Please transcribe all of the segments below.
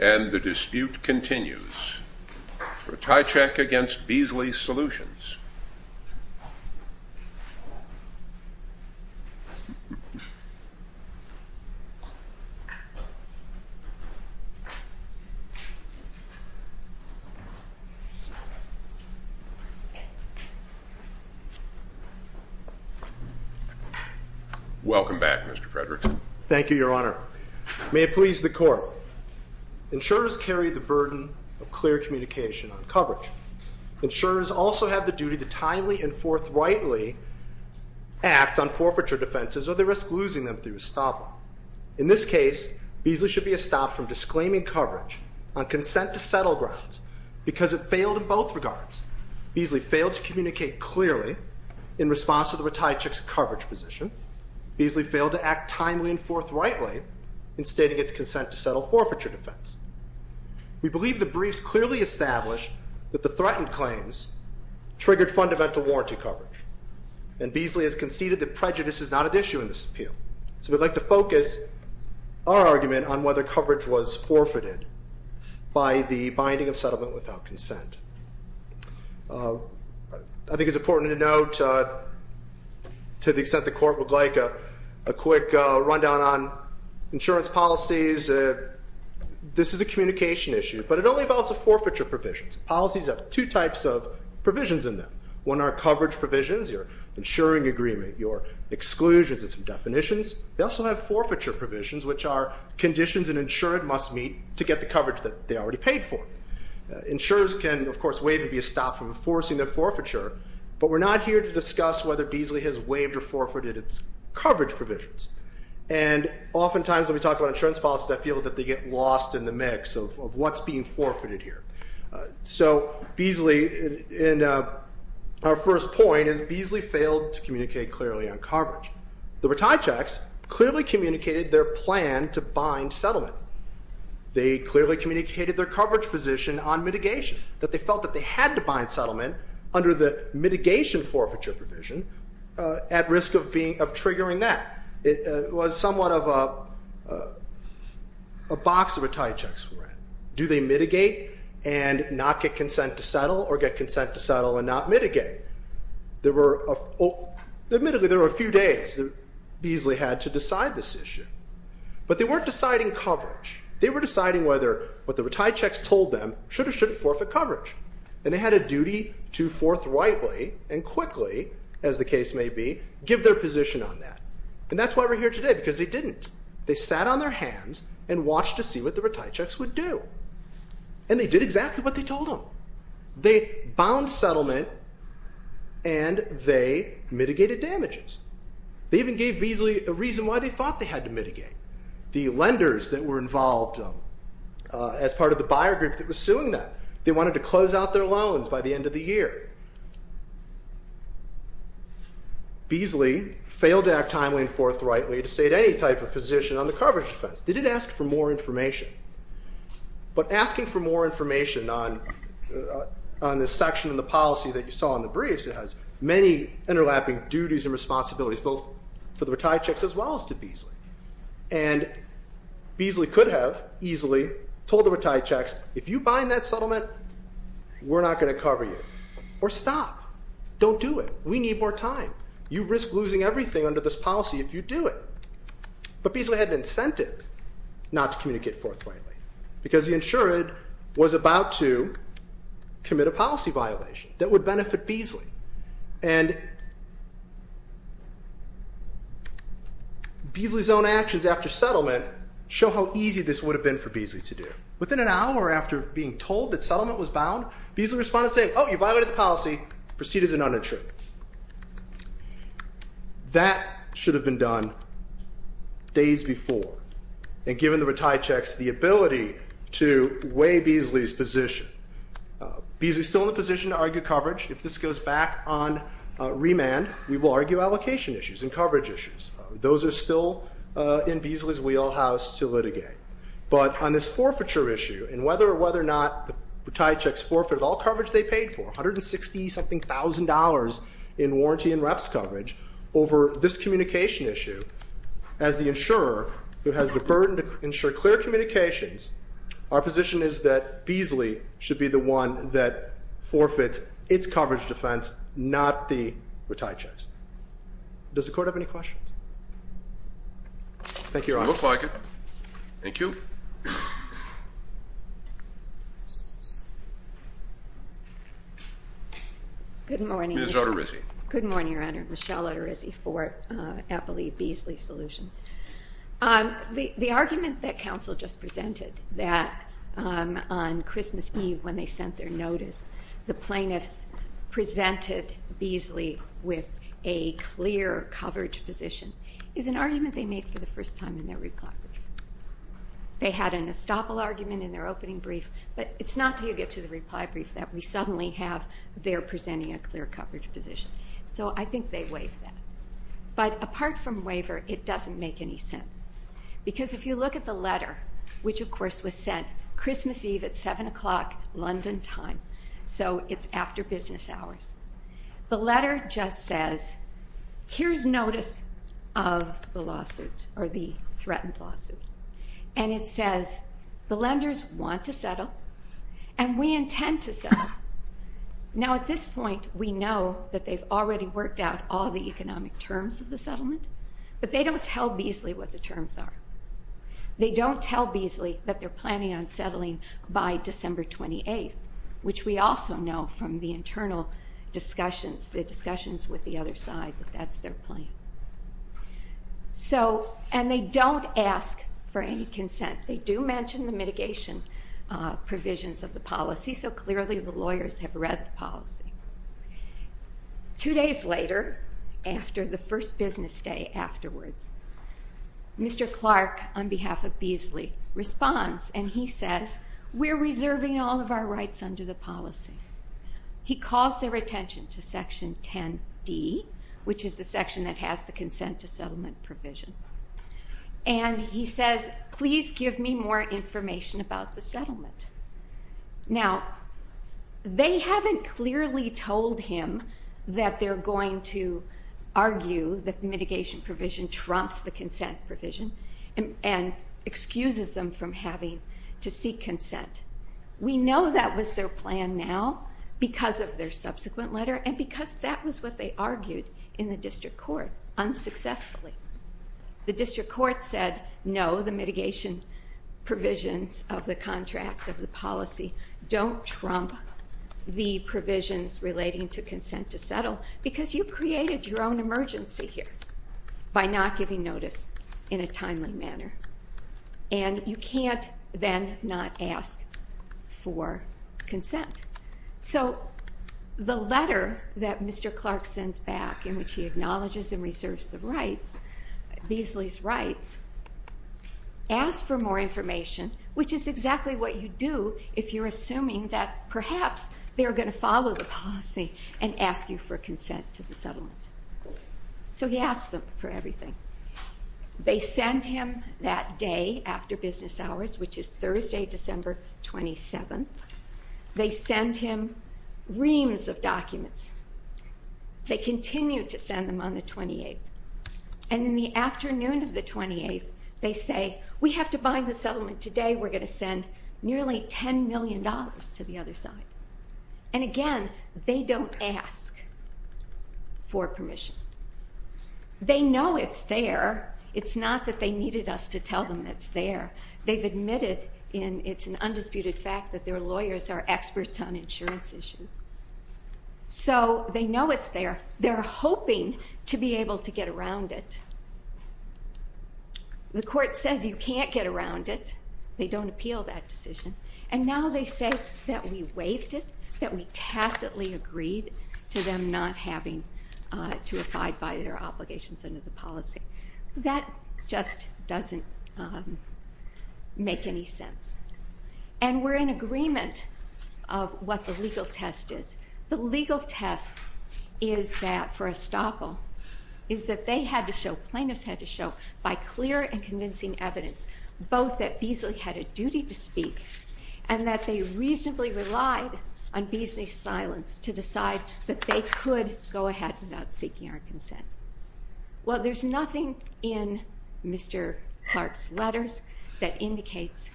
And the dispute continues. Ratajczak v. Beazley Solutions. Welcome back, Mr. Fredericks. Thank you, Your Honor. May it please the Court, insurers carry the burden of clear communication on coverage. Insurers also have the duty to timely and forthrightly act on forfeiture defenses or they risk losing them through a stop-up. In this case, Beazley should be stopped from disclaiming coverage on consent-to-settle grounds because it failed in both regards. Beazley failed to communicate clearly in response to the Ratajczak's coverage position. Beazley failed to act timely and forthrightly in stating its consent-to-settle forfeiture defense. We believe the briefs clearly establish that the threatened claims triggered fundamental warranty coverage. And Beazley has conceded that prejudice is not at issue in this appeal. So we'd like to focus our argument on whether coverage was forfeited by the binding of settlement without consent. I think it's important to note, to the extent the Court would like, a quick rundown on insurance policies. This is a communication issue, but it only involves the forfeiture provisions. Policies have two types of provisions in them. One are coverage provisions, your insuring agreement, your exclusions and some definitions. They also have forfeiture provisions, which are conditions an insured must meet to get the coverage that they already paid for. Insurers can, of course, waive and be stopped from enforcing their forfeiture, but we're not here to discuss whether Beazley has waived or forfeited its coverage provisions. And oftentimes when we talk about insurance policies, I feel that they get lost in the mix of what's being forfeited here. So Beazley, and our first point is Beazley failed to communicate clearly on coverage. The retire checks clearly communicated their plan to bind settlement. They clearly communicated their coverage position on mitigation, that they felt that they had to bind settlement under the mitigation forfeiture provision at risk of triggering that. It was somewhat of a box the retire checks were in. Do they mitigate and not get consent to settle or get consent to settle and not mitigate? Admittedly, there were a few days that Beazley had to decide this issue. But they weren't deciding coverage. They were deciding whether what the retire checks told them should or shouldn't forfeit coverage. And they had a duty to forthrightly and quickly, as the case may be, give their position on that. And that's why we're here today, because they didn't. They sat on their hands and watched to see what the retire checks would do. And they did exactly what they told them. They bound settlement and they mitigated damages. They even gave Beazley a reason why they thought they had to mitigate. The lenders that were involved as part of the buyer group that was suing them, they wanted to close out their loans by the end of the year. Beazley failed to act timely and forthrightly to state any type of position on the coverage defense. They did ask for more information. But asking for more information on this section in the policy that you saw in the briefs, it has many interlapping duties and responsibilities, both for the retire checks as well as to Beazley. And Beazley could have easily told the retire checks, if you bind that settlement, we're not going to cover you, or stop. Don't do it. We need more time. You risk losing everything under this policy if you do it. But Beazley had an incentive not to communicate forthrightly, because the insured was about to commit a policy violation that would benefit Beazley. And Beazley's own actions after settlement show how easy this would have been for Beazley to do. Within an hour after being told that settlement was bound, Beazley responded saying, oh, you violated the policy, proceed as an uninsured. That should have been done days before. And given the retire checks, the ability to weigh Beazley's position. Beazley's still in the position to argue coverage. If this goes back on remand, we will argue allocation issues and coverage issues. Those are still in Beazley's wheelhouse to litigate. But on this forfeiture issue, and whether or whether or not the retire checks forfeit all coverage they paid for, $160-something thousand in warranty and reps coverage, over this communication issue, as the insurer who has the burden to ensure clear communications, our position is that Beazley should be the one that forfeits its coverage defense, not the retire checks. Thank you, Your Honor. Looks like it. Thank you. Good morning, Your Honor. Ms. Arterizzi. Good morning, Your Honor. Michelle Arterizzi for Applebee's Beazley Solutions. The argument that counsel just presented that on Christmas Eve when they sent their notice, the plaintiffs presented Beazley with a clear coverage position, is an argument they made for the first time in their reply brief. They had an estoppel argument in their opening brief, but it's not until you get to the reply brief that we suddenly have their presenting a clear coverage position. So I think they waived that. But apart from waiver, it doesn't make any sense. Because if you look at the letter, which, of course, was sent Christmas Eve at 7 o'clock London time, so it's after business hours, the letter just says, here's notice of the lawsuit, or the threatened lawsuit. And it says, the lenders want to settle, and we intend to settle. Now, at this point, we know that they've already worked out all the economic terms of the settlement, but they don't tell Beazley what the terms are. They don't tell Beazley that they're planning on settling by December 28th, which we also know from the internal discussions, the discussions with the other side, that that's their plan. And they don't ask for any consent. They do mention the mitigation provisions of the policy, so clearly the lawyers have read the policy. Two days later, after the first business day afterwards, Mr. Clark, on behalf of Beazley, responds, and he says, we're reserving all of our rights under the policy. He calls their attention to Section 10D, which is the section that has the consent to settlement provision. And he says, please give me more information about the settlement. Now, they haven't clearly told him that they're going to argue that mitigation provision trumps the consent provision and excuses them from having to seek consent. We know that was their plan now because of their subsequent letter and because that was what they argued in the district court, unsuccessfully. The district court said, no, the mitigation provisions of the contract, of the policy, don't trump the provisions relating to consent to settle because you created your own emergency here by not giving notice in a timely manner. And you can't then not ask for consent. So the letter that Mr. Clark sends back in which he acknowledges and reserves the rights, Beazley's rights, asks for more information, which is exactly what you do if you're assuming that perhaps they're going to follow the policy and ask you for consent to the settlement. So he asks them for everything. They send him that day after business hours, which is Thursday, December 27th. They send him reams of documents. They continue to send them on the 28th. And in the afternoon of the 28th, they say, we have to bind the settlement today. We're going to send nearly $10 million to the other side. And again, they don't ask for permission. They know it's there. It's not that they needed us to tell them it's there. They've admitted it's an undisputed fact that their lawyers are experts on insurance issues. So they know it's there. They're hoping to be able to get around it. The court says you can't get around it. They don't appeal that decision. And now they say that we waived it, that we tacitly agreed to them not having to abide by their obligations under the policy. That just doesn't make any sense. And we're in agreement of what the legal test is. The legal test is that for Estoppel is that they had to show, plaintiffs had to show, by clear and convincing evidence, both that Beasley had a duty to speak and that they reasonably relied on Beasley's silence to decide that they could go ahead without seeking our consent. Well, there's nothing in Mr. Clark's letters that indicates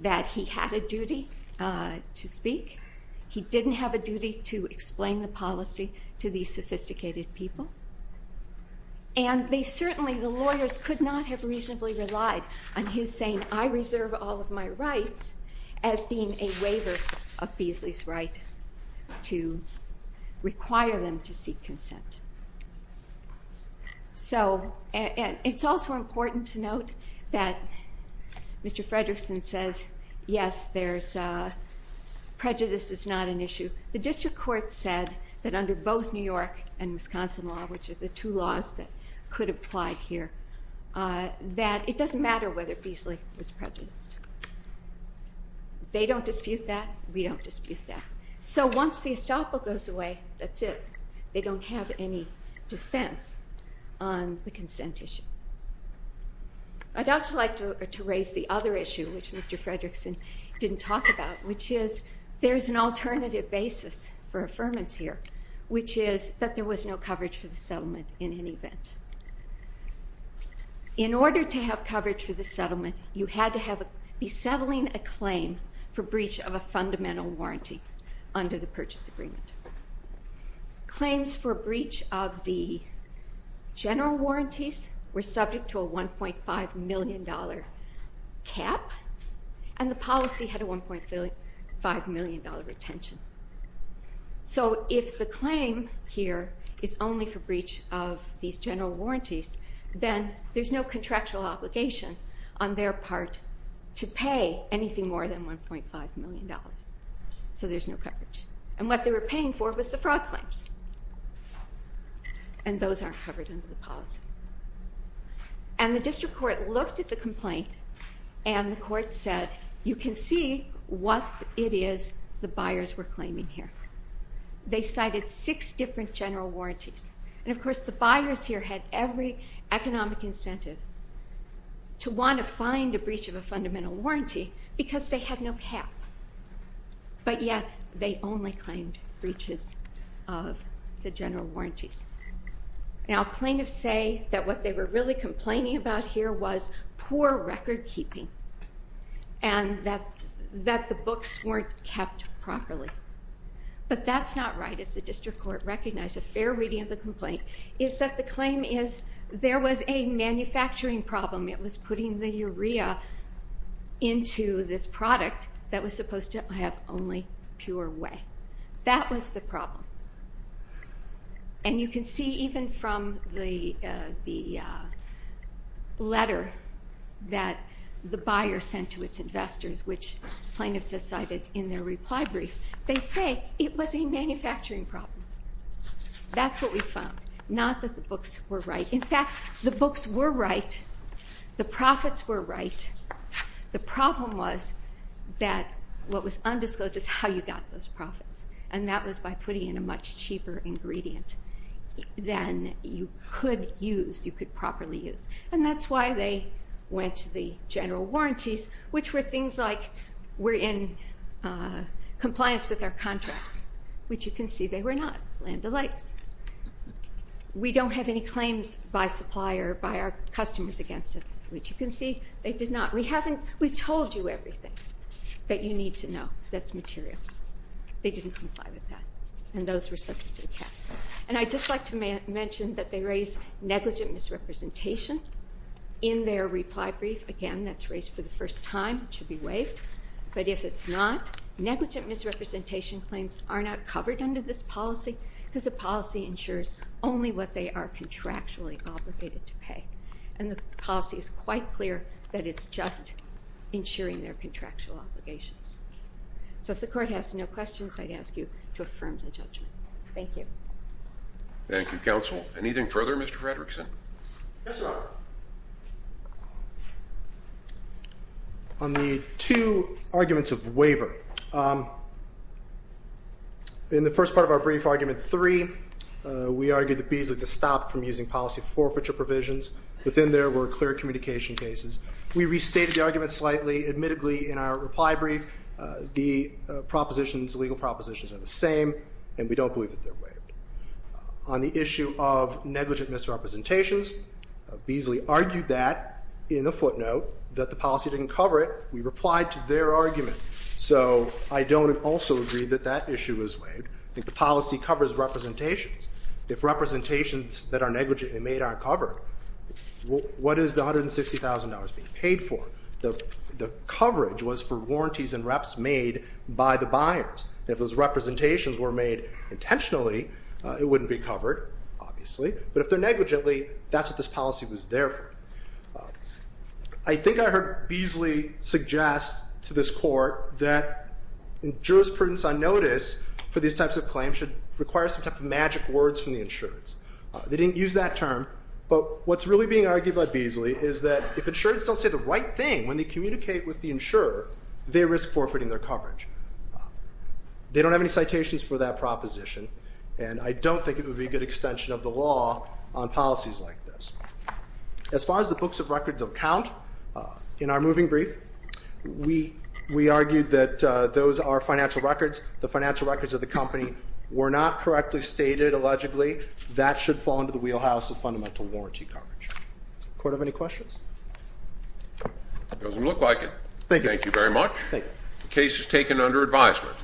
that he had a duty to speak. He didn't have a duty to explain the policy to these sophisticated people. And they certainly, the lawyers, could not have reasonably relied on his saying, I reserve all of my rights as being a waiver of Beasley's right to require them to seek consent. So it's also important to note that Mr. Fredersen says, yes, prejudice is not an issue. The district court said that under both New York and Wisconsin law, which is the two laws that could apply here, that it doesn't matter whether Beasley was prejudiced. They don't dispute that. We don't dispute that. So once the Estoppel goes away, that's it. They don't have any defense on the consent issue. I'd also like to raise the other issue, which Mr. Fredersen didn't talk about, which is there's an alternative basis for affirmance here, which is that there was no coverage for the settlement in any event. In order to have coverage for the settlement, you had to be settling a claim for breach of a fundamental warranty under the purchase agreement. Claims for breach of the general warranties were subject to a $1.5 million cap, and the policy had a $1.5 million retention. So if the claim here is only for breach of these general warranties, then there's no contractual obligation on their part to pay anything more than $1.5 million. So there's no coverage. And what they were paying for was the fraud claims, and those aren't covered under the policy. And the district court looked at the complaint, and the court said, you can see what it is the buyers were claiming here. They cited six different general warranties, and of course the buyers here had every economic incentive to want to find a breach of a fundamental warranty because they had no cap. But yet, they only claimed breaches of the general warranties. Now plaintiffs say that what they were really complaining about here was poor record keeping and that the books weren't kept properly. But that's not right, as the district court recognized. A fair reading of the complaint is that the claim is there was a manufacturing problem. It was putting the urea into this product that was supposed to have only pure whey. That was the problem. And you can see even from the letter that the buyer sent to its investors, which plaintiffs decided in their reply brief, they say it was a manufacturing problem. That's what we found, not that the books were right. In fact, the books were right. The profits were right. The problem was that what was undisclosed is how you got those profits, and that was by putting in a much cheaper ingredient than you could use, you could properly use. And that's why they went to the general warranties, which were things like we're in compliance with our contracts, which you can see they were not. Land O'Lakes. We don't have any claims by supplier, by our customers against us, which you can see they did not. We've told you everything that you need to know that's material. They didn't comply with that, and those were subject to the cap. And I'd just like to mention that they raise negligent misrepresentation in their reply brief. Again, that's raised for the first time. It should be waived. But if it's not, negligent misrepresentation claims are not covered under this policy because the policy ensures only what they are contractually obligated to pay, and the policy is quite clear that it's just ensuring their contractual obligations. So if the court has no questions, I'd ask you to affirm the judgment. Thank you. Thank you, counsel. Anything further, Mr. Fredrickson? Yes, Your Honor. On the two arguments of waiver. In the first part of our brief, argument three, we argued that Beasley should stop from using policy forfeiture provisions. Within there were clear communication cases. We restated the argument slightly. Admittedly, in our reply brief, the legal propositions are the same, and we don't believe that they're waived. On the issue of negligent misrepresentations, Beasley argued that in the footnote that the policy didn't cover it. We replied to their argument. So I don't also agree that that issue is waived. I think the policy covers representations. If representations that are negligently made aren't covered, what is the $160,000 being paid for? The coverage was for warranties and reps made by the buyers. If those representations were made intentionally, it wouldn't be covered, obviously. But if they're negligently, that's what this policy was there for. I think I heard Beasley suggest to this court that jurisprudence on notice for these types of claims should require some type of magic words from the insurers. They didn't use that term, but what's really being argued by Beasley is that if insurers don't say the right thing when they communicate with the insurer, they risk forfeiting their coverage. They don't have any citations for that proposition, and I don't think it would be a good extension of the law on policies like this. As far as the books of records of count, in our moving brief, we argued that those are financial records. The financial records of the company were not correctly stated, allegedly. That should fall into the wheelhouse of fundamental warranty coverage. Does the court have any questions? It doesn't look like it. Thank you. Thank you very much. The case is taken under advisement.